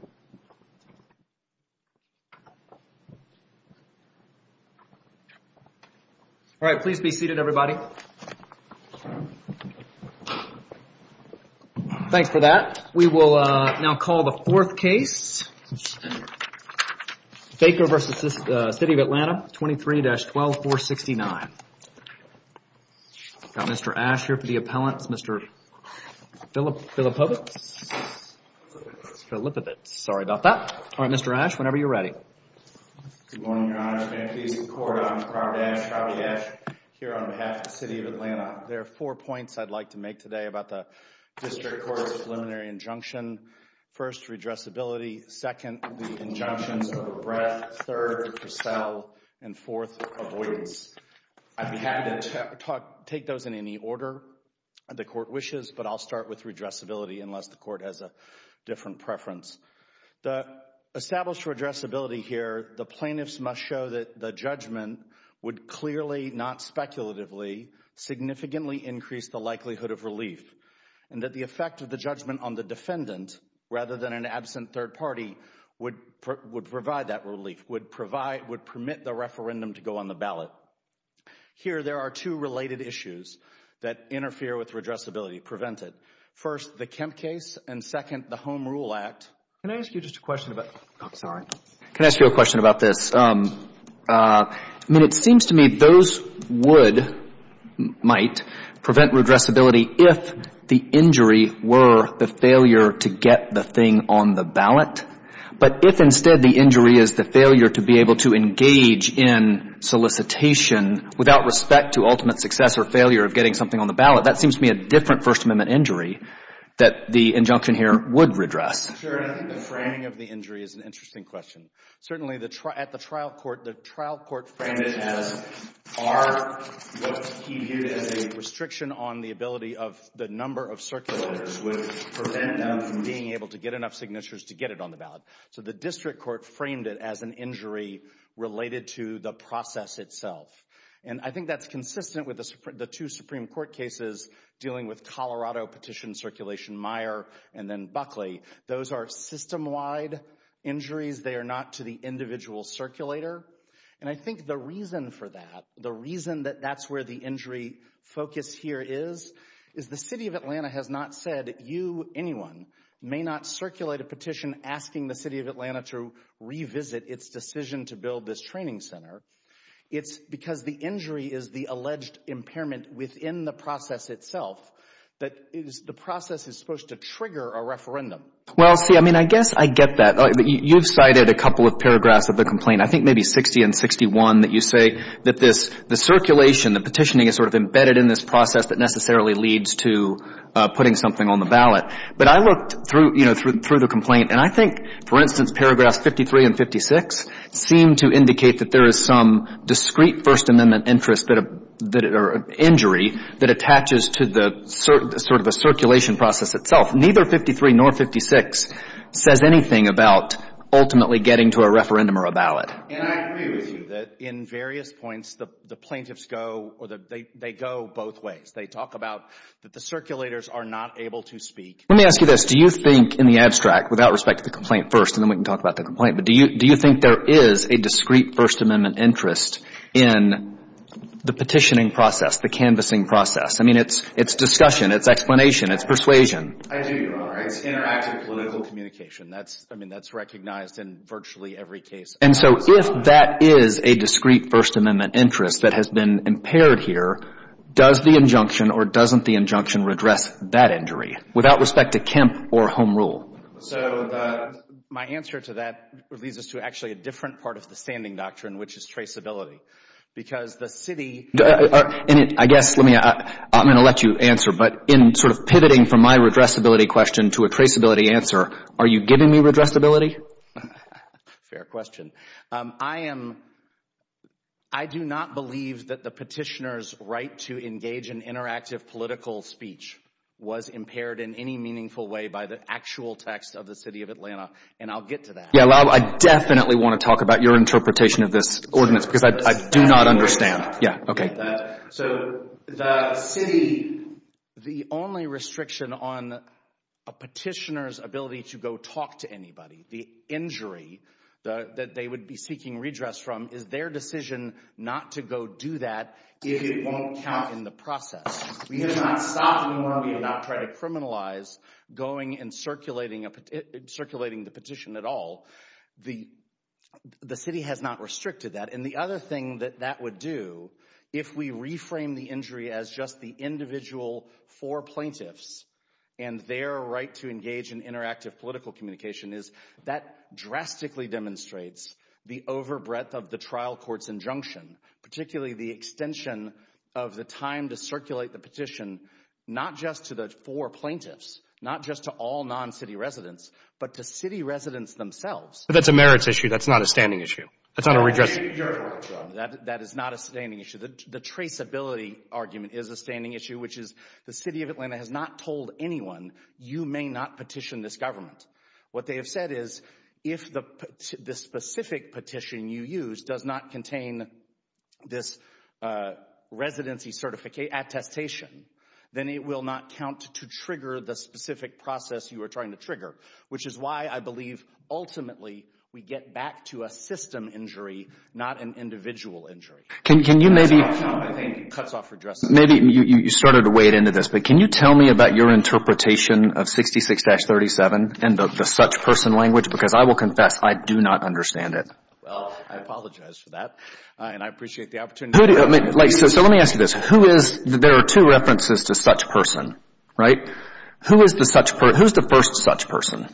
All right, please be seated, everybody. Thanks for that. We will now call the fourth case, Baker v. City of Atlanta, 23-12469. We've got Mr. Ashe here for the appellants, Mr. Philippovitz. Sorry about that. All right, Mr. Ashe, whenever you're ready. Good morning, Your Honors. May I please the Court, I'm Robert Ashe, Robert Ashe here on behalf of the City of Atlanta. There are four points I'd like to make today about the District Court's preliminary injunction. First, redressability. Second, the injunctions of Arbreth, third, Purcell, and fourth, avoidance. I'd be happy to take those in any order the Court wishes, but I'll start with redressability unless the Court has a different preference. The established redressability here, the plaintiffs must show that the judgment would clearly, not speculatively, significantly increase the likelihood of relief, and that the effect of the judgment on the defendant, rather than an absent third party, would provide that relief, would permit the referendum to go on the ballot. Here there are two related issues that interfere with redressability, prevent it. First, the Kemp case, and second, the Home Rule Act. Can I ask you just a question about, oh, sorry, can I ask you a question about this? I mean, it seems to me those would, might, prevent redressability if the injury were the failure to get the thing on the ballot, but if instead the injury is the failure to be able to engage in solicitation without respect to ultimate success or failure of getting something on the ballot, that seems to me a different First Amendment injury that the injunction here would redress. Sure, and I think the framing of the injury is an interesting question. Certainly, at the trial court, the trial court framed it as a restriction on the ability of the number of circulators which prevent them from being able to get enough signatures to get it on the ballot. So, the district court framed it as an injury related to the process itself. And I think that's consistent with the two Supreme Court cases dealing with Colorado petition circulation, Meyer and then Buckley. Those are system-wide injuries. They are not to the individual circulator. And I think the reason for that, the reason that that's where the injury focus here is, is the City of Atlanta has not said you, anyone, may not circulate a petition asking the City of Atlanta to revisit its decision to build this training center. It's because the injury is the alleged impairment within the process itself that the process is supposed to trigger a referendum. Well, see, I mean, I guess I get that. You've cited a couple of paragraphs of the complaint, I think maybe 60 and 61, that you say that this, the circulation, the petitioning is sort of embedded in this process that necessarily leads to putting something on the ballot. But I looked through, you know, through the complaint, and I think, for instance, paragraphs 53 and 56 seem to indicate that there is some discrete First Amendment interest that, or injury that attaches to the sort of a circulation process itself. Neither 53 nor 56 says anything about ultimately getting to a referendum or a ballot. And I agree with you that in various points, the plaintiffs go or they go both ways. They talk about that the circulators are not able to speak. Let me ask you this. Do you think, in the abstract, without respect to the complaint first, and then we can talk about the complaint, but do you think there is a discrete First Amendment interest in the petitioning process, the canvassing process? I mean, it's discussion, it's explanation, it's persuasion. I do, Your Honor. It's interactive political communication. That's, I mean, that's recognized in virtually every case. And so if that is a discrete First Amendment interest that has been impaired here, does the injunction or doesn't the injunction redress that injury without respect to Kemp or Home Rule? So my answer to that leads us to actually a different part of the standing doctrine, which is traceability. Because the city... I guess, let me, I'm going to let you answer, but in sort of pivoting from my redressability question to a traceability answer, are you giving me redressability? Fair question. I am, I do not believe that the petitioner's right to engage in interactive political speech was impaired in any meaningful way by the actual text of the city of Atlanta. And I'll get to that. Yeah, well, I definitely want to talk about your interpretation of this ordinance because I do not understand. Yeah, OK. So the city, the only restriction on a petitioner's ability to go talk to anybody, the injury that they would be seeking redress from, is their decision not to go do that if it won't count in the process. We have not stopped anyone, we have not tried to criminalize going and circulating the petition at all. The city has not restricted that. And the other thing that that would do, if we reframe the injury as just the individual four plaintiffs and their right to engage in interactive political communication, is that drastically demonstrates the overbreadth of the trial court's injunction, particularly the extension of the time to circulate the petition, not just to the four plaintiffs, not just to all non-city residents, but to city residents themselves. That's a merits issue, that's not a standing issue. That's not a redress. That is not a standing issue. The traceability argument is a standing issue, which is the city of Atlanta has not told anyone, you may not petition this government. What they have said is, if the specific petition you use does not contain this residency certification, attestation, then it will not count to trigger the specific process you are trying to trigger, which is why I believe ultimately we get back to a system injury, not an individual injury. Can you maybe... That's what I think cuts off redress. Maybe you started to wade into this, but can you tell me about your interpretation of 66-37 and the such person language? Because I will confess, I do not understand it. Well, I apologize for that. And I appreciate the opportunity. So let me ask you this, who is, there are two references to such person, right? Who is the such, who's the first such person?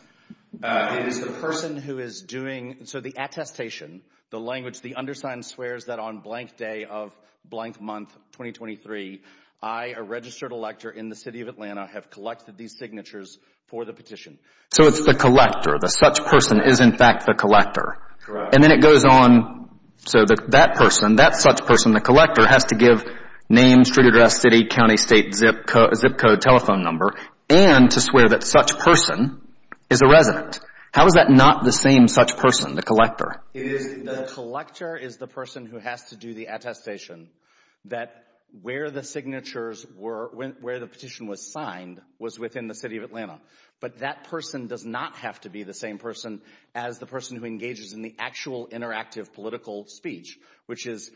It is the person who is doing, so the attestation, the language, the undersigned swears that on blank day of blank month 2023, I, a registered elector in the city of Atlanta, have collected these signatures for the petition. So it's the collector, the such person is in fact the collector. And then it goes on, so that person, that such person, the collector has to give name, street address, city, county, state, zip code, telephone number, and to swear that such person is a resident. How is that not the same such person, the collector? It is, the collector is the person who has to do the attestation that where the signatures were, where the petition was signed, was within the city of Atlanta. But that person does not have to be the same person as the person who engages in the actual interactive political speech, which is,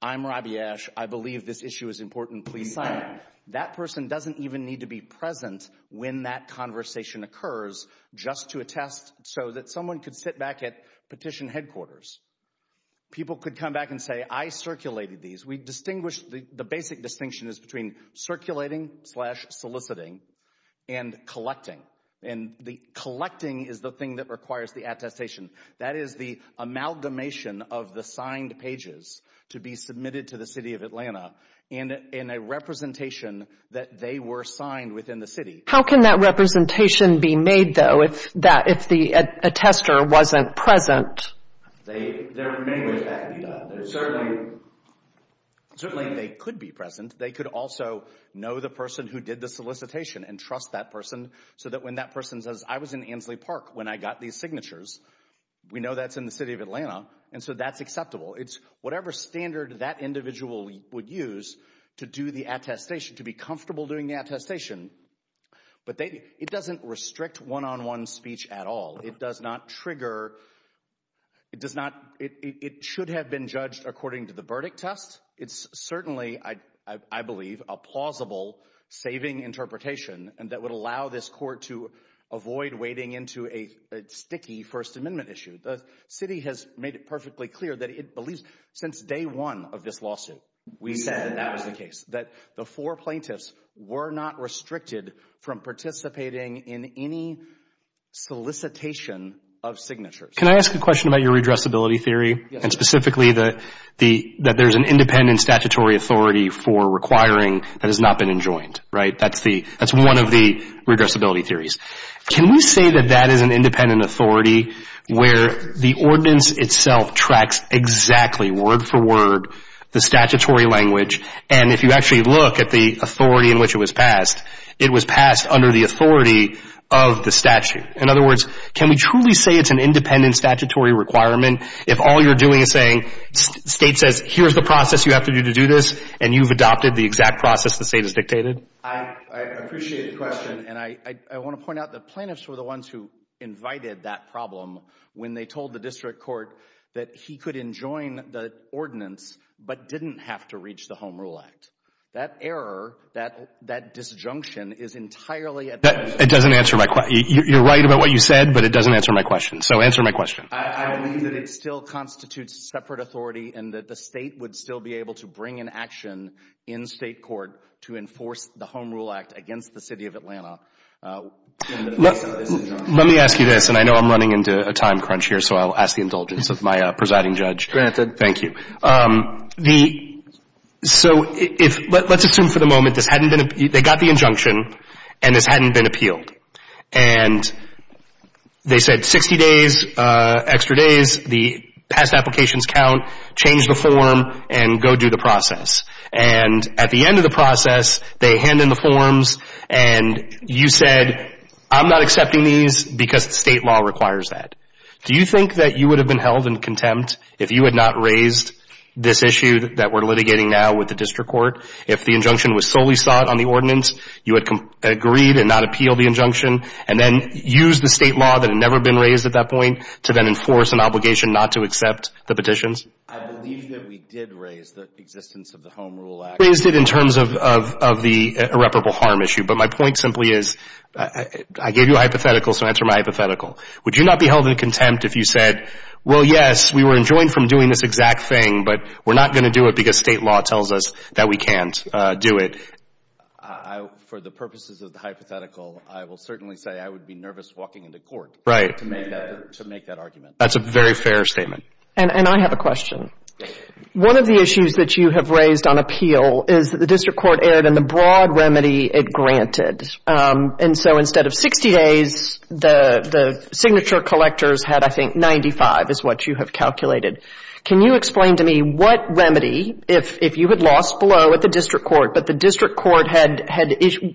I'm Robbie Ash, I believe this issue is important, please sign it. That person doesn't even need to be present when that conversation occurs just to attest so that someone could sit back at petition headquarters. People could come back and say, I circulated these. We distinguish, the basic distinction is between circulating slash soliciting and collecting. And the collecting is the thing that requires the attestation. That is the amalgamation of the signed pages to be submitted to the city of that they were signed within the city. How can that representation be made, though, if that, if the attester wasn't present? They, there are many ways that can be done. Certainly, certainly they could be present. They could also know the person who did the solicitation and trust that person so that when that person says, I was in Ansley Park when I got these signatures, we know that's in the city of Atlanta. And so that's acceptable. It's whatever standard that individual would use to do the attestation, to be comfortable doing the attestation. But it doesn't restrict one on one speech at all. It does not trigger. It does not. It should have been judged according to the verdict test. It's certainly, I believe, a plausible saving interpretation and that would allow this court to avoid wading into a sticky First Amendment issue. The city has made it perfectly clear that it believes since day one of this lawsuit, we said that that was the case, that the four plaintiffs were not restricted from participating in any solicitation of signatures. Can I ask a question about your redressability theory and specifically that the, that there's an independent statutory authority for requiring that has not been enjoined, right? That's the, that's one of the redressability theories. Can we say that that is an independent authority where the ordinance itself tracks exactly word for word the statutory language? And if you actually look at the authority in which it was passed, it was passed under the authority of the statute. In other words, can we truly say it's an independent statutory requirement if all you're doing is saying, state says, here's the process you have to do to do this and you've adopted the exact process the state has dictated? I, I appreciate the question and I, I want to point out that plaintiffs were the ones who invited that problem when they told the district court that he could enjoin the ordinance but didn't have to reach the Home Rule Act. That error, that, that disjunction is entirely at. It doesn't answer my question. You're right about what you said, but it doesn't answer my question. So answer my question. I believe that it still constitutes separate authority and that the state would still be able to bring an action in state court to enforce the Home Rule Act against the city of Atlanta. Let me ask you this, and I know I'm running into a time crunch here, so I'll ask the indulgence of my presiding judge. Granted. Thank you. The, so if, let's assume for the moment this hadn't been, they got the injunction and this hadn't been appealed and they said 60 days, extra days, the past applications count, change the form and go do the process. And at the end of the process, they hand in the forms and you said, I'm not accepting these because the state law requires that. Do you think that you would have been held in contempt if you had not raised this issue that we're litigating now with the district court? If the injunction was solely sought on the ordinance, you had agreed and not appealed the injunction and then used the state law that had never been raised at that point to then enforce an obligation not to accept the petitions? I believe that we did raise the existence of the Home Rule Act. Raised it in terms of, of, of the irreparable harm issue. But my point simply is, I gave you a hypothetical, so I answer my hypothetical. Would you not be held in contempt if you said, well, yes, we were enjoined from doing this exact thing, but we're not going to do it because state law tells us that we can't do it. I, for the purposes of the hypothetical, I will certainly say I would be nervous walking into court to make that, to make that argument. That's a very fair statement. And I have a question. One of the issues that you have raised on appeal is that the district court erred in the broad remedy it granted. And so instead of 60 days, the signature collectors had, I think, 95 is what you have calculated. Can you explain to me what remedy, if you had lost blow at the district court, but the district court had,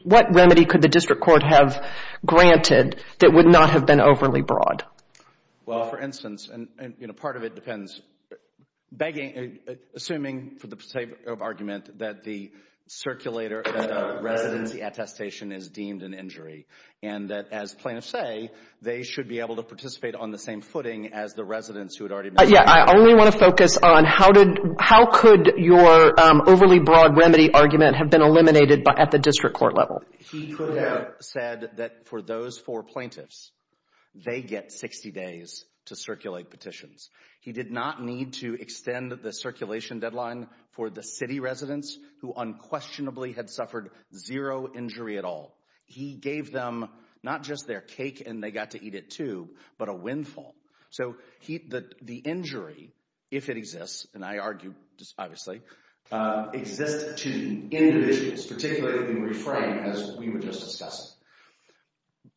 what remedy could the district court have granted that would not have been overly broad? Well, for instance, and, you know, part of it depends, begging, assuming for the particular argument that the circulator at a residency attestation is deemed an injury, and that as plaintiffs say, they should be able to participate on the same footing as the residents who had already been. Yeah. I only want to focus on how did, how could your overly broad remedy argument have been eliminated by, at the district court level? He could have said that for those four plaintiffs, they get 60 days to circulate petitions. He did not need to extend the circulation deadline for the city residents who unquestionably had suffered zero injury at all. He gave them not just their cake and they got to eat it too, but a windfall. So the injury, if it exists, and I argue, obviously, exists to individuals, particularly the refrained, as we were just discussing,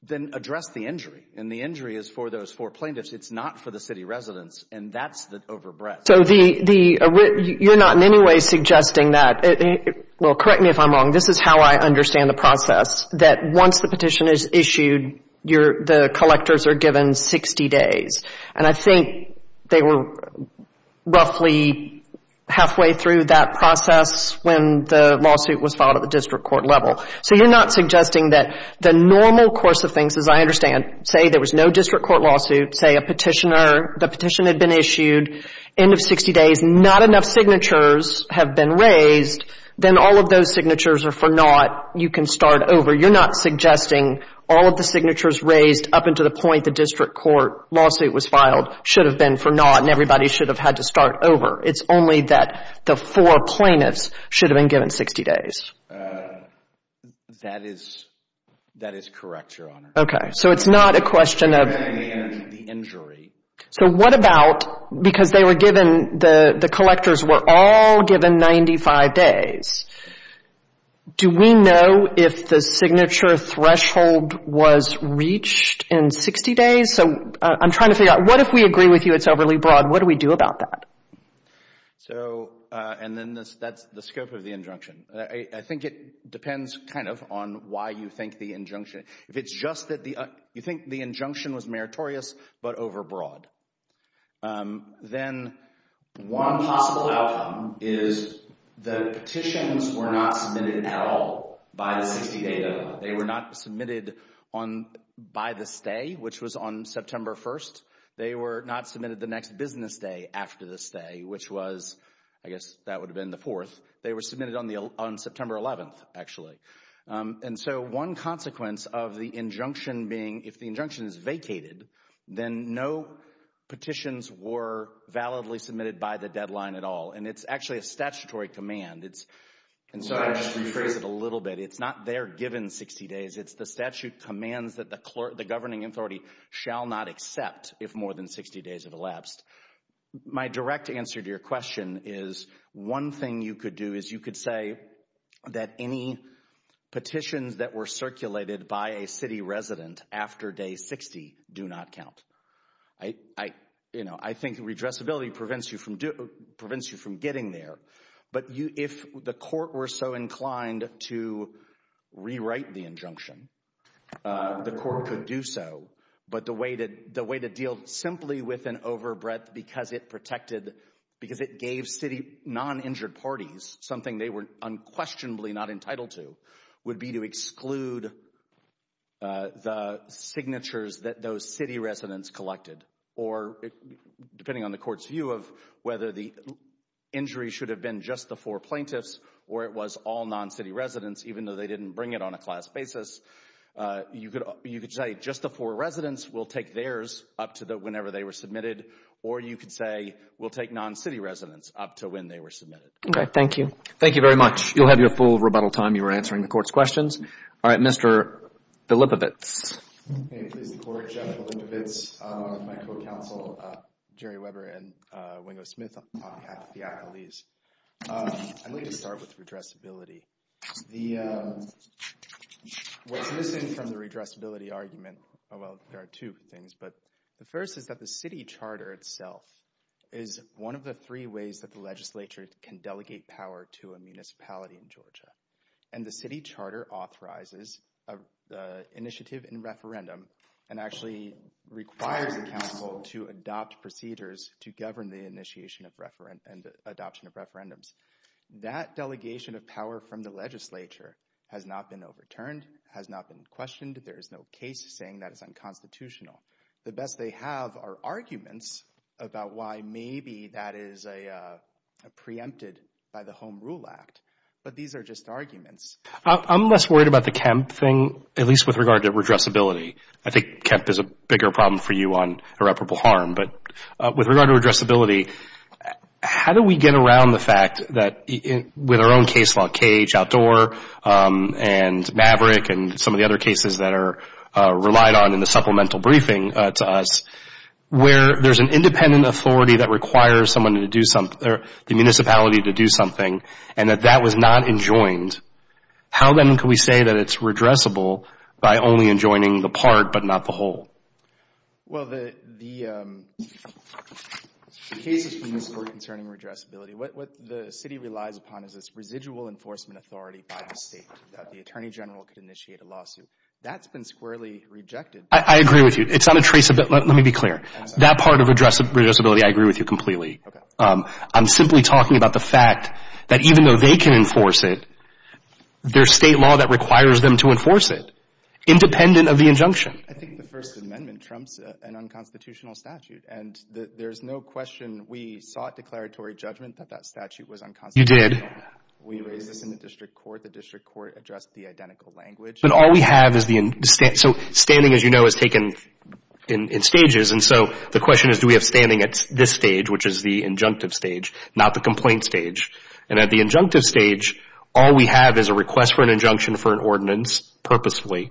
then address the injury. And the injury is for those four plaintiffs. It's not for the city residents. And that's the overbreadth. So the, you're not in any way suggesting that, well, correct me if I'm wrong, this is how I understand the process, that once the petition is issued, the collectors are given 60 days. And I think they were roughly halfway through that process when the lawsuit was filed at the district court level. So you're not suggesting that the normal course of things, as I understand, say there was no district court lawsuit, say a petitioner, the petition had been issued, end of 60 days, not enough signatures have been raised, then all of those signatures are for naught, you can start over. You're not suggesting all of the signatures raised up until the point the district court lawsuit was filed should have been for naught and everybody should have had to start over. It's only that the four plaintiffs should have been given 60 days. That is, that is correct, Your Honor. Okay. So it's not a question of... And the injury. So what about, because they were given, the collectors were all given 95 days, do we know if the signature threshold was reached in 60 days? So I'm trying to figure out, what if we agree with you it's overly broad? What do we do about that? So, and then that's the scope of the injunction. I think it depends kind of on why you think the injunction, if it's just that the, you think the injunction was meritorious, but overbroad. Then one possible outcome is the petitions were not submitted at all by the 60 day deadline. They were not submitted on, by the stay, which was on September 1st. They were not submitted the next business day after the stay, which was, I guess that would have been the 4th. They were submitted on the, on September 11th, actually. And so one consequence of the injunction being, if the injunction is vacated, then no petitions were validly submitted by the deadline at all. And it's actually a statutory command. It's, and so I just rephrase it a little bit. It's not they're given 60 days. It's the statute commands that the governing authority shall not accept if more than 60 days have elapsed. My direct answer to your question is one thing you could do is you could say that any petitions that were circulated by a city resident after day 60 do not count. I, you know, I think redressability prevents you from, prevents you from getting there. But if the court were so inclined to rewrite the injunction, the court could do so. But the way to, the way to deal simply with an overbreadth because it protected, because it gave city non-injured parties something they were unquestionably not entitled to, would be to exclude the signatures that those city residents collected. Or depending on the court's view of whether the injury should have been just the four plaintiffs or it was all non-city residents, even though they didn't bring it on a class basis, you could, you could say just the four residents will take theirs up to the, whenever they were submitted. Or you could say we'll take non-city residents up to when they were submitted. Okay, thank you. Thank you very much. You'll have your full rebuttal time. You were answering the court's questions. All right. Mr. Bilibovitz. May it please the court, Jeff Bilibovitz, on behalf of my co-counsel Jerry Weber and Wingo Smith, on behalf of the accolades. I'd like to start with redressability. The, what's missing from the redressability argument, well, there are two things. But the first is that the city charter itself is one of the three ways that the legislature can delegate power to a municipality in Georgia. And the city charter authorizes an initiative in referendum and actually requires the council to adopt procedures to govern the initiation of reference and adoption of referendums. That delegation of power from the legislature has not been overturned, has not been questioned. There is no case saying that is unconstitutional. The best they have are arguments about why maybe that is a preempted by the Home Rule Act. But these are just arguments. I'm less worried about the Kemp thing, at least with regard to redressability. I think Kemp is a bigger problem for you on irreparable harm. But with regard to redressability, how do we get around the fact that with our own case law, Cage, Outdoor, and Maverick, and some of the other cases that are relied on in the supplemental briefing to us, where there's an independent authority that requires someone to do something, the municipality to do something, and that that was not enjoined, how then can we say that it's redressable by only enjoining the part but not the whole? Well, the cases we used were concerning redressability. What the city relies upon is this residual enforcement authority by the state that the Attorney General could initiate a lawsuit. That's been squarely rejected. I agree with you. It's not a traceable. Let me be clear. That part of redressability, I agree with you completely. I'm simply talking about the fact that even though they can enforce it, there's state law that requires them to enforce it, independent of the injunction. I think the First Amendment trumps an unconstitutional statute. And there's no question we sought declaratory judgment that that statute was unconstitutional. You did. We raised this in the district court. The district court addressed the identical language. But all we have is the... So standing, as you know, is taken in stages. And so the question is, do we have standing at this stage, which is the injunctive stage, not the complaint stage? And at the injunctive stage, all we have is a request for an injunction for an ordinance, purposefully,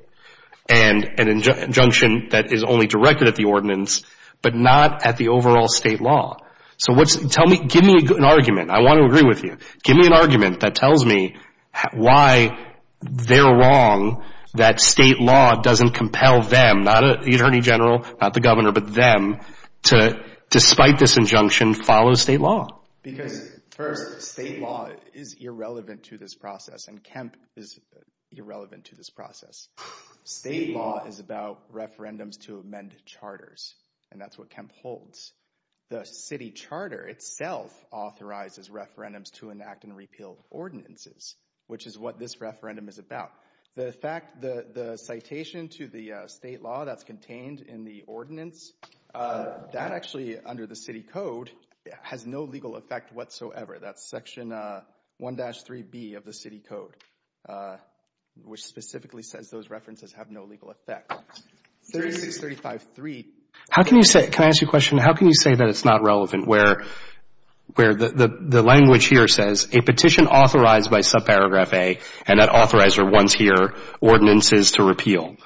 and an injunction that is only directed at the ordinance, but not at the overall state law. So give me an argument. I want to agree with you. Give me an argument that tells me why they're wrong that state law doesn't compel them, not the attorney general, not the governor, but them to, despite this injunction, follow state law. Because first, state law is irrelevant to this process. And Kemp is irrelevant to this process. State law is about referendums to amend charters. And that's what Kemp holds. The city charter itself authorizes referendums to enact and repeal ordinances, which is what this referendum is about. The fact, the citation to the state law that's contained in the ordinance, that actually, under the city code, has no legal effect whatsoever. That's section 1-3B of the city code, which specifically says those references have no legal effect. 3635-3. How can you say, can I ask you a question? How can you say that it's not relevant where the language here says, a petition authorized by subparagraph A, and that authorizer wants here ordinances to repeal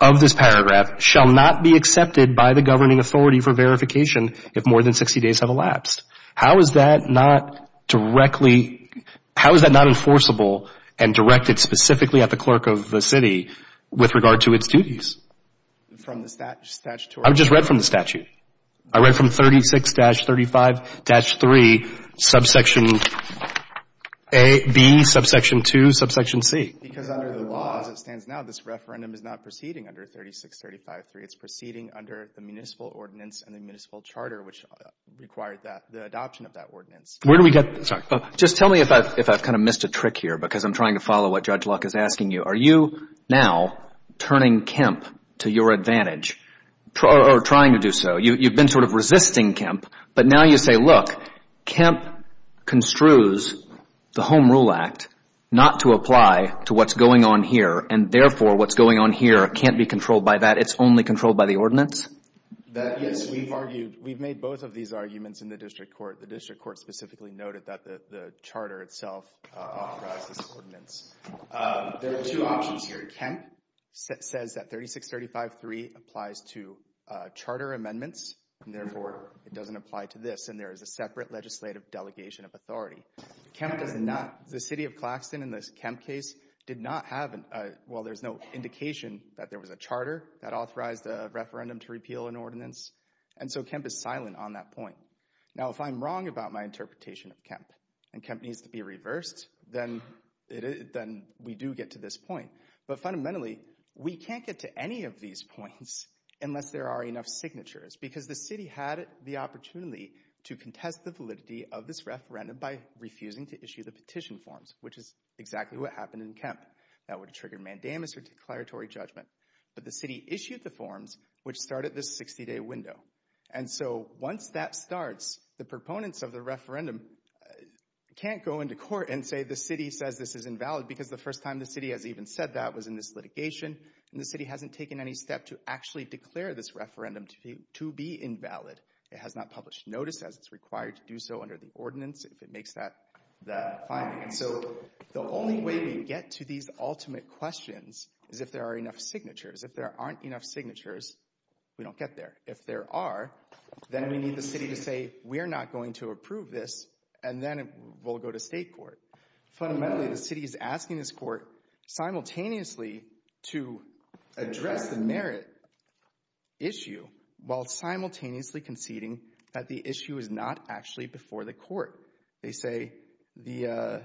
of this paragraph, shall not be accepted by the governing authority for verification if more than 60 days have elapsed. How is that not directly, how is that not enforceable and directed specifically at the clerk of the city with regard to its duties? From the statutory? I just read from the statute. I read from 36-35-3, subsection A, B, subsection 2, subsection C. Because under the law as it stands now, this referendum is not proceeding under 3635-3. It's proceeding under the municipal ordinance and the municipal charter, which required the adoption of that ordinance. Where do we get, sorry. Just tell me if I've kind of missed a trick here, because I'm trying to follow what Judge Luck is asking you. Are you now turning Kemp to your advantage, or trying to do so? You've been sort of resisting Kemp, but now you say, look, Kemp construes the Home Rule Act not to apply to what's going on here, and therefore what's going on here can't be controlled by that. It's only controlled by the ordinance? That, yes, we've argued. We've made both of these arguments in the district court. The district court specifically noted that the charter itself authorized this ordinance. There are two options here. Kemp says that 3635-3 applies to charter amendments, and therefore it doesn't apply to this. And there is a separate legislative delegation of authority. Kemp does not, the city of Claxton in this Kemp case did not have, well, there's no referendum to repeal an ordinance, and so Kemp is silent on that point. Now, if I'm wrong about my interpretation of Kemp, and Kemp needs to be reversed, then we do get to this point. But fundamentally, we can't get to any of these points unless there are enough signatures, because the city had the opportunity to contest the validity of this referendum by refusing to issue the petition forms, which is exactly what happened in Kemp. That would have triggered mandamus or declaratory judgment. But the city issued the forms, which started this 60-day window. And so once that starts, the proponents of the referendum can't go into court and say the city says this is invalid, because the first time the city has even said that was in this litigation. And the city hasn't taken any step to actually declare this referendum to be invalid. It has not published notice as it's required to do so under the ordinance, if it makes that finding. So the only way we get to these ultimate questions is if there are enough signatures. If there aren't enough signatures, we don't get there. If there are, then we need the city to say we're not going to approve this, and then we'll go to state court. Fundamentally, the city is asking this court simultaneously to address the merit issue while simultaneously conceding that the issue is not actually before the court. They say the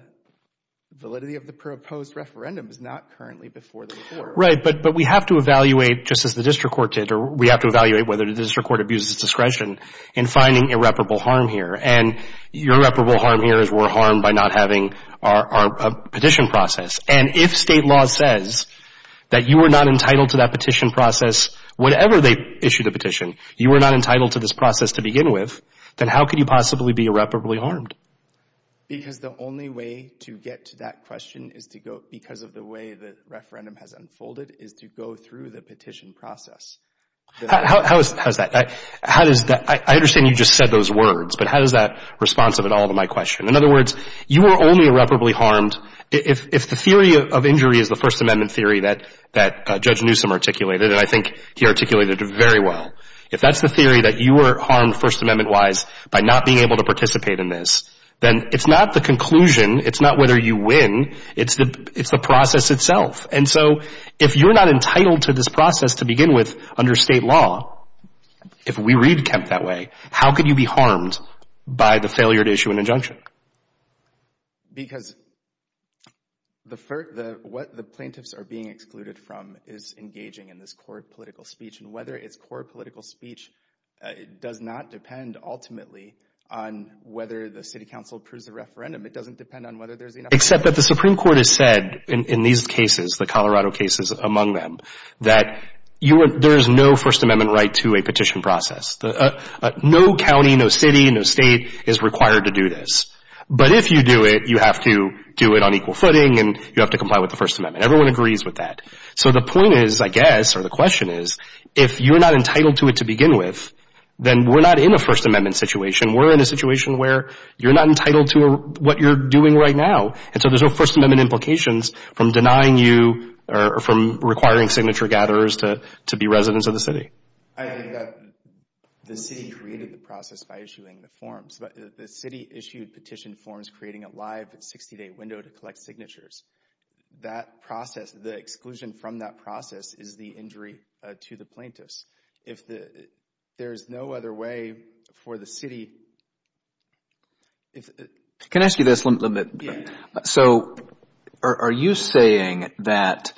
validity of the proposed referendum is not currently before the court. Right, but we have to evaluate, just as the district court did, or we have to evaluate whether the district court abuses discretion in finding irreparable harm here. And irreparable harm here is we're harmed by not having our petition process. And if state law says that you are not entitled to that petition process, whatever they issued a petition, you were not entitled to this process to begin with, then how could you possibly be irreparably harmed? Because the only way to get to that question is to go, because of the way the referendum has unfolded, is to go through the petition process. How is that? I understand you just said those words, but how does that respond to all of my questions? In other words, you were only irreparably harmed if the theory of injury is the First Amendment theory that Judge Newsom articulated, and I think he articulated it very well. If that's the theory that you were harmed First Amendment-wise by not being able to participate in this, then it's not the conclusion, it's not whether you win, it's the process itself. And so if you're not entitled to this process to begin with under state law, if we read Kemp that way, how could you be harmed by the failure to issue an injunction? Because what the plaintiffs are being excluded from is engaging in this court political speech, and whether it's court political speech does not depend ultimately on whether the city council approves the referendum. It doesn't depend on whether there's enough- Except that the Supreme Court has said in these cases, the Colorado cases among them, that there is no First Amendment right to a petition process. No county, no city, no state is required to do this. But if you do it, you have to do it on equal footing, and you have to comply with the First Amendment. Everyone agrees with that. So the point is, I guess, or the question is, if you're not entitled to it to begin with, then we're not in a First Amendment situation. We're in a situation where you're not entitled to what you're doing right now. And so there's no First Amendment implications from denying you or from requiring signature gatherers to be residents of the city. I think that the city created the process by issuing the forms. But the city issued petition forms creating a live 60-day window to collect signatures. That process, the exclusion from that process is the injury to the plaintiffs. There is no other way for the city- Can I ask you this? So are you saying that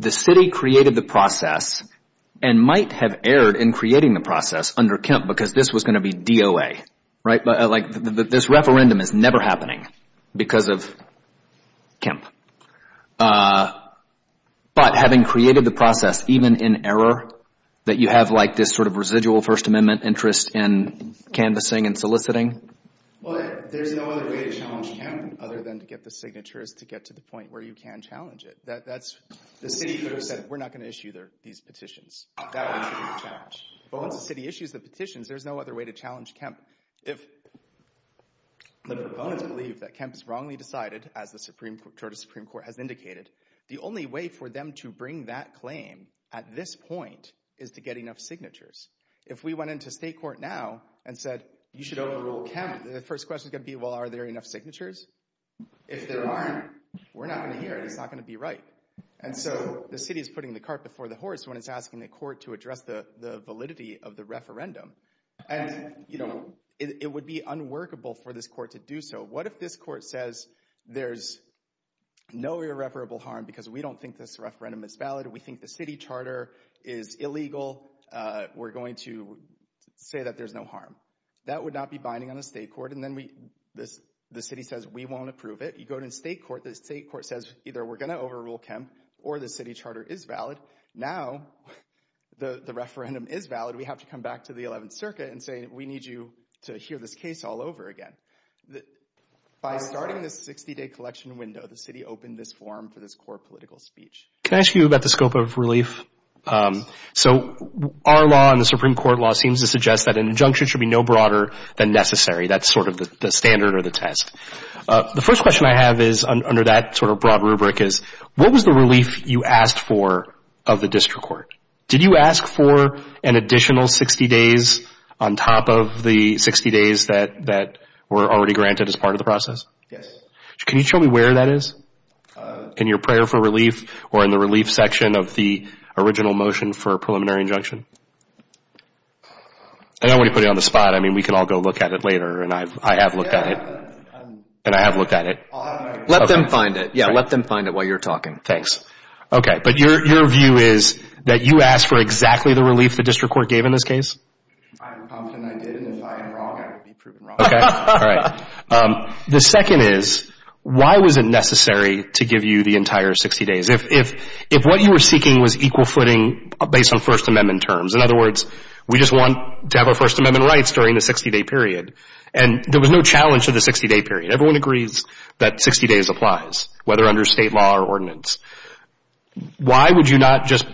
the city created the process and might have erred in creating the process under Kemp because this was going to be DOA, right? This referendum is never happening because of Kemp. But having created the process, even in error, that you have like this sort of residual First Amendment interest in canvassing and soliciting? Well, there's no other way to challenge Kemp other than to get the signatures to get to the point where you can challenge it. That's the city that said, we're not going to issue these petitions. But once the city issues the petitions, there's no other way to challenge Kemp. If the proponents believe that Kemp's wrongly decided, as the Supreme Court has indicated, the only way for them to bring that claim at this point is to get enough signatures. If we went into state court now and said, you should overrule Kemp, the first question is going to be, well, are there enough signatures? If there aren't, we're not going to hear it. It's not going to be right. And so the city is putting the cart before the horse when it's asking the court to address the validity of the referendum. And, you know, it would be unworkable for this court to do so. What if this court says there's no irreparable harm because we don't think this referendum is valid? We think the city charter is illegal. We're going to say that there's no harm. That would not be binding on a state court. And then the city says, we won't approve it. You go to state court, the state court says either we're going to overrule Kemp or the city charter is valid. Now the referendum is valid. We have to come back to the 11th Circuit and say, we need you to hear this case all over again. By starting this 60-day collection window, the city opened this forum for this core political speech. Can I ask you about the scope of relief? So our law and the Supreme Court law seems to suggest that an injunction should be no broader than necessary. That's sort of the standard or the test. The first question I have is under that sort of broad rubric is, what was the relief you asked for of the district court? Did you ask for an additional 60 days on top of the 60 days that were already granted as part of the process? Yes. Can you show me where that is? In your prayer for relief or in the relief section of the original motion for a preliminary injunction? I don't want to put it on the spot. I mean, we can all go look at it later. And I have looked at it. And I have looked at it. Let them find it. Yeah, let them find it while you're talking. Thanks. Okay, but your view is that you asked for exactly the relief the district court gave in this case? I'm confident I did. And if I am wrong, I will be proven wrong. Okay, all right. The second is, why was it necessary to give you the entire 60 days? If what you were seeking was equal footing based on First Amendment terms. In other words, we just want to have our First Amendment rights during the 60-day period. And there was no challenge to the 60-day period. Everyone agrees that 60 days applies, whether under state law or ordinance. Why would you not just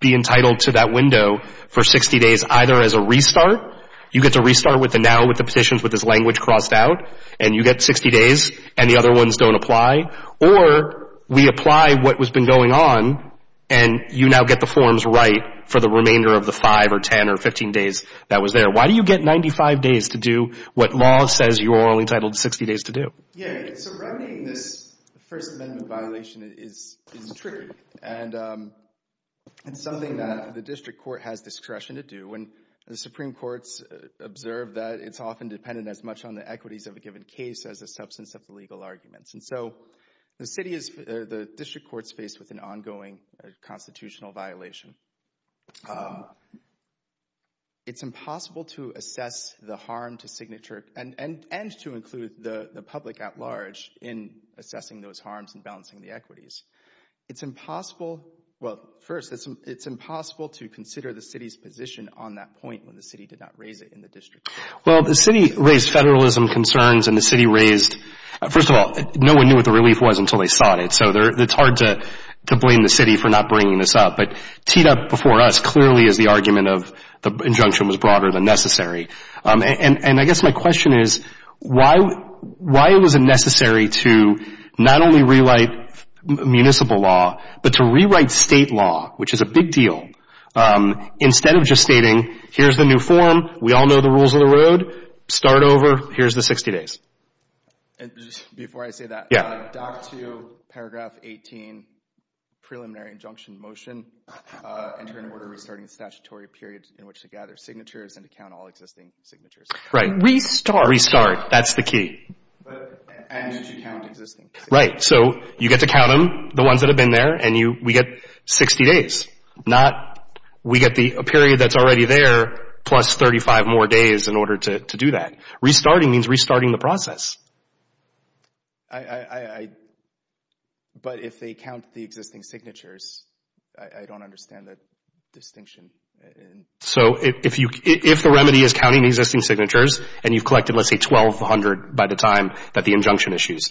be entitled to that window for 60 days either as a restart? You get to restart with the now, with the petitions, with this language crossed out. And you get 60 days. And the other ones don't apply. Or we apply what was been going on. And you now get the forms right for the remainder of the 5 or 10 or 15 days that was there. Why do you get 95 days to do what law says you're only entitled to 60 days to do? Yeah, so remedying this First Amendment violation is tricky. And it's something that the district court has discretion to do. And the Supreme Court's observed that it's often dependent as much on the equities of a given case as a substance of the legal arguments. And so the city is, the district court's faced with an ongoing constitutional violation. It's impossible to assess the harm to signature and to include the public at large in assessing those harms and balancing the equities. It's impossible, well, first, it's impossible to consider the city's position on that point when the city did not raise it in the district. Well, the city raised federalism concerns and the city raised, first of all, no one knew what the relief was until they sought it. So it's hard to blame the city for not bringing this up. But teed up before us clearly is the argument of the injunction was broader than necessary. And I guess my question is, why was it necessary to not only rewrite municipal law, but to rewrite state law, which is a big deal, instead of just stating, here's the new form, we all know the rules of the road, start over, here's the 60 days? And just before I say that, doc to paragraph 18, preliminary injunction motion, enter in order restarting the statutory period in which to gather signatures and to count all existing signatures. Right. Restart. Restart, that's the key. And to count existing. Right. So you get to count them, the ones that have been there, and we get 60 days. We get a period that's already there, plus 35 more days in order to do that. Restarting means restarting the process. But if they count the existing signatures, I don't understand that distinction. So if the remedy is counting the existing signatures, and you've collected, let's say, 1,200 by the time that the injunction issues,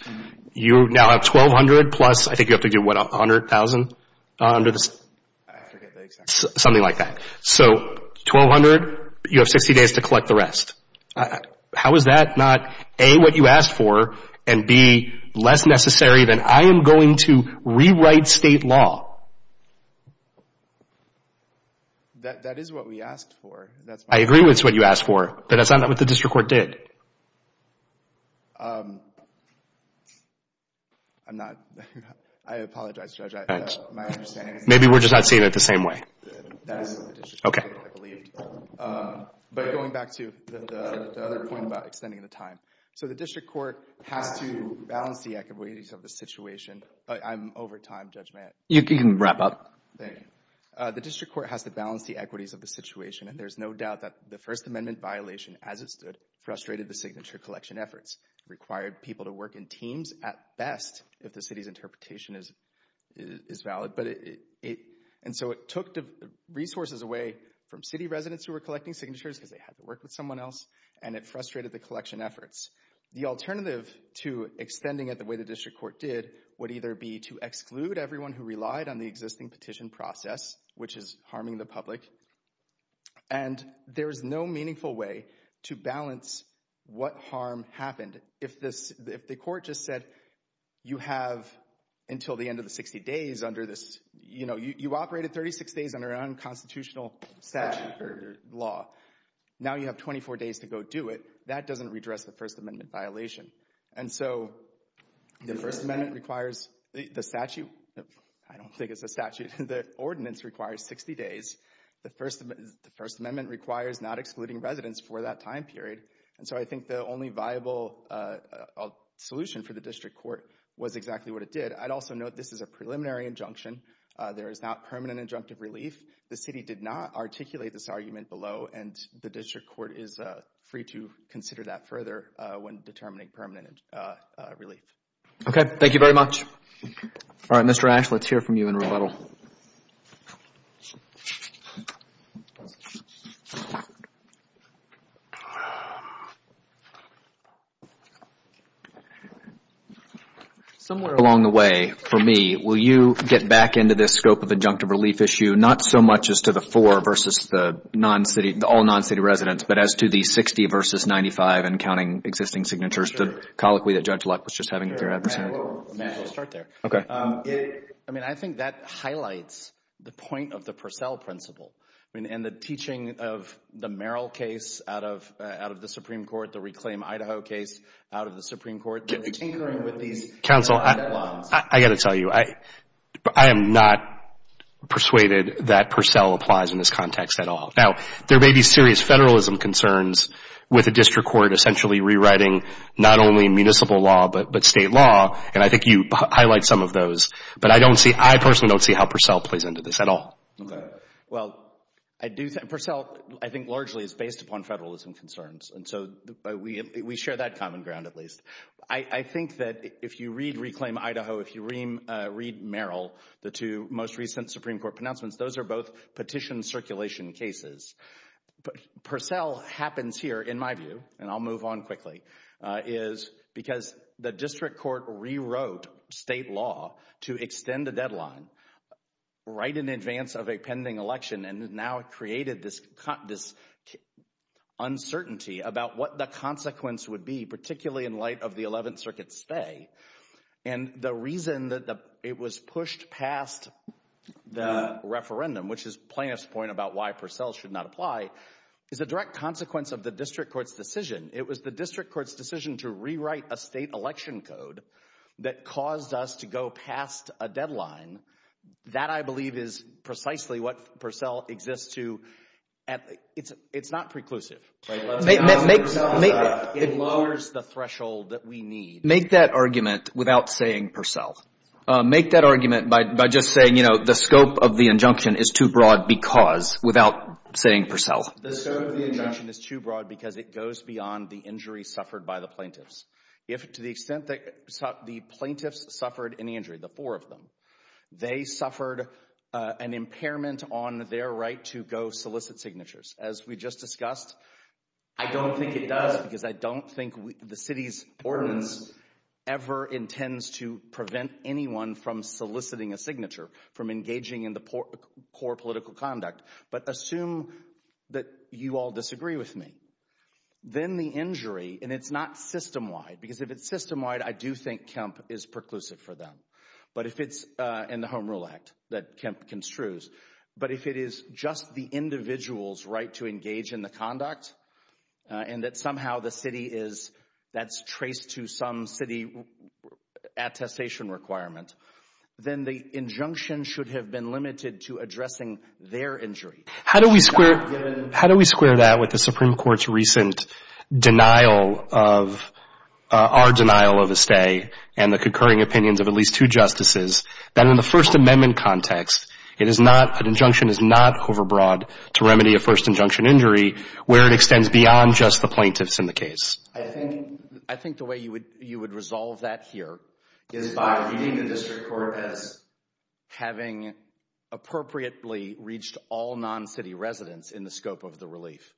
you now have 1,200 plus, I think you have to do, what, 100,000? I forget the exact number. Something like that. So 1,200, you have 60 days to collect the rest. How is that not, A, what you asked for, and B, less necessary? Then I am going to rewrite state law. That is what we asked for. I agree it's what you asked for, but that's not what the district court did. I'm not, I apologize, Judge. Maybe we're just not seeing it the same way. Okay. I believe, but going back to the other point about extending the time. So the district court has to balance the equities of the situation. I'm over time, Judge Mayotte. You can wrap up. Thank you. The district court has to balance the equities of the situation, and there's no doubt that the First Amendment violation, as it stood, frustrated the signature collection efforts, required people to work in teams at best, if the city's interpretation is valid. And so it took the resources away from city residents who were collecting signatures, because they had to work with someone else, and it frustrated the collection efforts. The alternative to extending it the way the district court did would either be to exclude everyone who relied on the existing petition process, which is harming the public, and there is no meaningful way to balance what harm happened. If the court just said, you have until the end of the 60 days under this, you know, you operated 36 days under unconstitutional statute or law. Now you have 24 days to go do it. That doesn't redress the First Amendment violation. And so the First Amendment requires the statute. I don't think it's a statute. The ordinance requires 60 days. The First Amendment requires not excluding residents for that time period. And so I think the only viable solution for the district court was exactly what it did. I'd also note this is a preliminary injunction. There is not permanent injunctive relief. The city did not articulate this argument below, and the district court is free to consider that further when determining permanent relief. Okay, thank you very much. All right, Mr. Ash, let's hear from you in rebuttal. Somewhere along the way, for me, will you get back into this scope of injunctive relief issue, not so much as to the four versus the non-city, all non-city residents, but as to the 60 versus 95 and counting existing signatures, the colloquy that Judge Luck was just having with your advocate? May I start there? Okay. I mean, I think that highlights the point of the Purcell principle and the teaching of the Merrill case out of the Supreme Court, the Reclaim Idaho case out of the Supreme Court. Counsel, I got to tell you, I am not persuaded that Purcell applies in this context at all. Now, there may be serious federalism concerns with the district court essentially rewriting not only municipal law but state law, and I think you highlight some of those, but I personally don't see how Purcell plays into this at all. Well, Purcell, I think, largely is based upon federalism concerns, and so we share that common ground at least. I think that if you read Reclaim Idaho, if you read Merrill, the two most recent Supreme Court pronouncements, those are both petition circulation cases. Purcell happens here, in my view, and I'll move on quickly, is because the district court rewrote state law to extend the deadline right in advance of a pending election and has now created this uncertainty about what the consequence would be, particularly in light of the 11th Circuit spay, and the reason that it was pushed past the referendum, which is plaintiff's point about why Purcell should not apply, is a direct consequence of the district court's decision. It was the district court's decision to rewrite a state election code that caused us to go past a deadline. That, I believe, is precisely what Purcell exists to. It's not preclusive. It lowers the threshold that we need. Make that argument without saying Purcell. Make that argument by just saying, you know, the scope of the injunction is too broad because, without saying Purcell. The scope of the injunction is too broad because it goes beyond the injury suffered by the plaintiffs. If, to the extent that the plaintiffs suffered any injury, the four of them, they suffered an impairment on their right to go solicit signatures, as we just discussed, I don't think it does because I don't think the city's ordinance ever intends to prevent anyone from soliciting a signature, from engaging in the core political conduct. But assume that you all disagree with me. Then the injury, and it's not system-wide, because if it's system-wide, I do think Kemp is preclusive for them. But if it's in the Home Rule Act that Kemp construes, but if it is just the individual's right to engage in the conduct and that somehow the city is, that's traced to some city attestation requirement, then the injunction should have been limited to addressing their injury. How do we square that with the Supreme Court's recent denial of, our denial of a stay, and the concurring opinions of at least two justices, that in the First Amendment context, it is not, an injunction is not overbroad to remedy a first injunction injury where it extends beyond just the plaintiffs in the case? I think the way you would resolve that here is by reading the district court as having appropriately reached all non-city residents in the scope of the relief.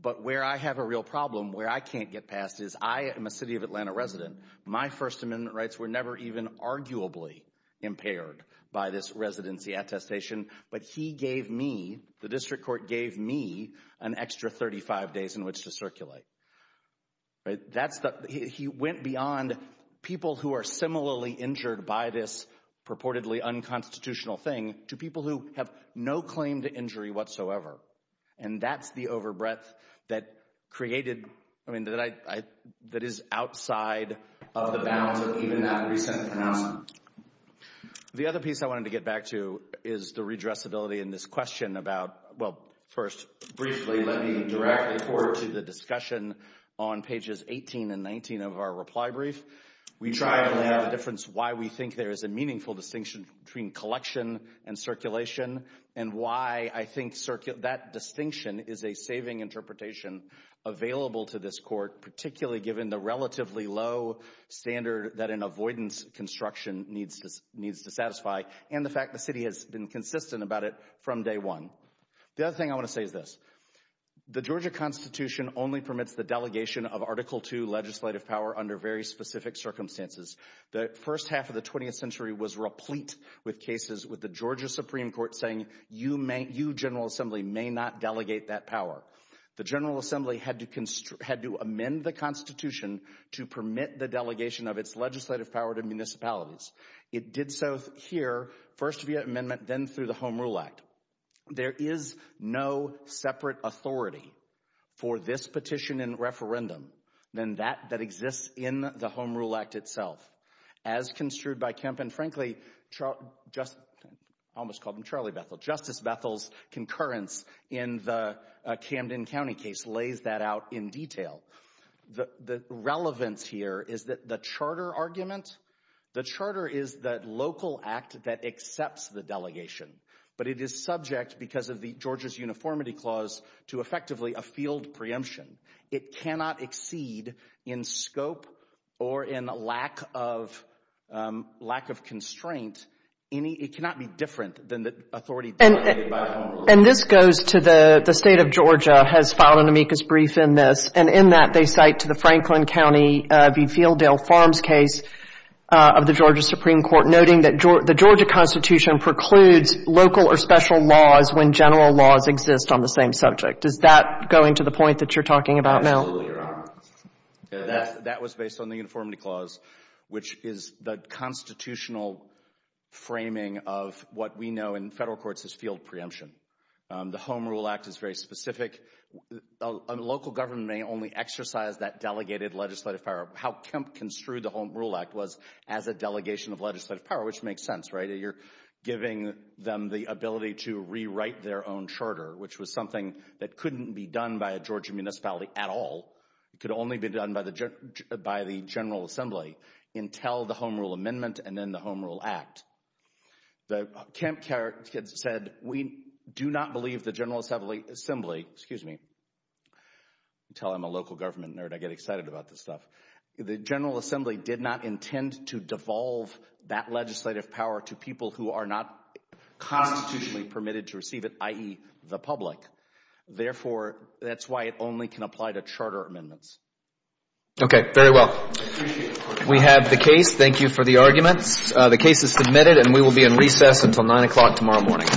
But where I have a real problem, where I can't get past, is I am a city of Atlanta resident. My First Amendment rights were never even arguably impaired by this residency attestation. But he gave me, the district court gave me, an extra 35 days in which to circulate. He went beyond people who are similarly injured by this purportedly unconstitutional thing to people who have no claim to injury whatsoever. And that's the overbreadth that created, I mean, that is outside of the bounds of even that recent pronouncement. The other piece I wanted to get back to is the redressability in this question about, well, first, briefly, let me direct the court to the discussion on pages 18 and 19 of our reply brief. We try to make a difference why we think there is a meaningful distinction between collection and circulation and why I think that distinction is a saving interpretation available to this court, particularly given the relatively low standard that an avoidance construction needs to satisfy and the fact the city has been consistent about it from day one. The other thing I want to say is this. The Georgia Constitution only permits the delegation of Article II legislative power under very specific circumstances. The first half of the 20th century was replete with cases with the Georgia Supreme Court saying, you, General Assembly, may not delegate that power. The General Assembly had to amend the Constitution to permit the delegation of its legislative power to municipalities. It did so here, first via amendment, then through the Home Rule Act. There is no separate authority for this petition and referendum than that that exists in the Home Rule Act itself. As construed by Kemp and, frankly, almost called him Charlie Bethel, Justice Bethel's concurrence in the Camden County case lays that out in detail. The relevance here is that the charter argument, the charter is the local act that accepts the delegation, but it is subject, because of the Georgia's uniformity clause, to effectively a field preemption. It cannot exceed, in scope or in lack of constraint, it cannot be different than the authority delegated by the Home Rule Act. And this goes to the state of Georgia has filed an amicus brief in this, and in that they cite to the Franklin County v. Fielddale Farms case of the Georgia Supreme Court noting that the Georgia Constitution precludes local or special laws when general laws exist on the same subject. Does that go into the point that you're talking about now? Absolutely, Your Honor. That was based on the uniformity clause, which is the constitutional framing of what we know in federal courts as field preemption. The Home Rule Act is very specific. Local government may only exercise that delegated legislative power. How Kemp construed the Home Rule Act was as a delegation of legislative power, which makes sense, right? You're giving them the ability to rewrite their own charter, which was something that couldn't be done by a Georgia municipality at all. It could only be done by the General Assembly until the Home Rule Amendment and then the Home Rule Act. The Kemp said, we do not believe the General Assembly, excuse me, until I'm a local government nerd, I get excited about this stuff. The General Assembly did not intend to devolve that legislative power to people who are not constitutionally permitted to receive it, the public. Therefore, that's why it only can apply to charter amendments. Okay, very well. We have the case. Thank you for the arguments. The case is submitted and we will be in recess until nine o'clock tomorrow morning.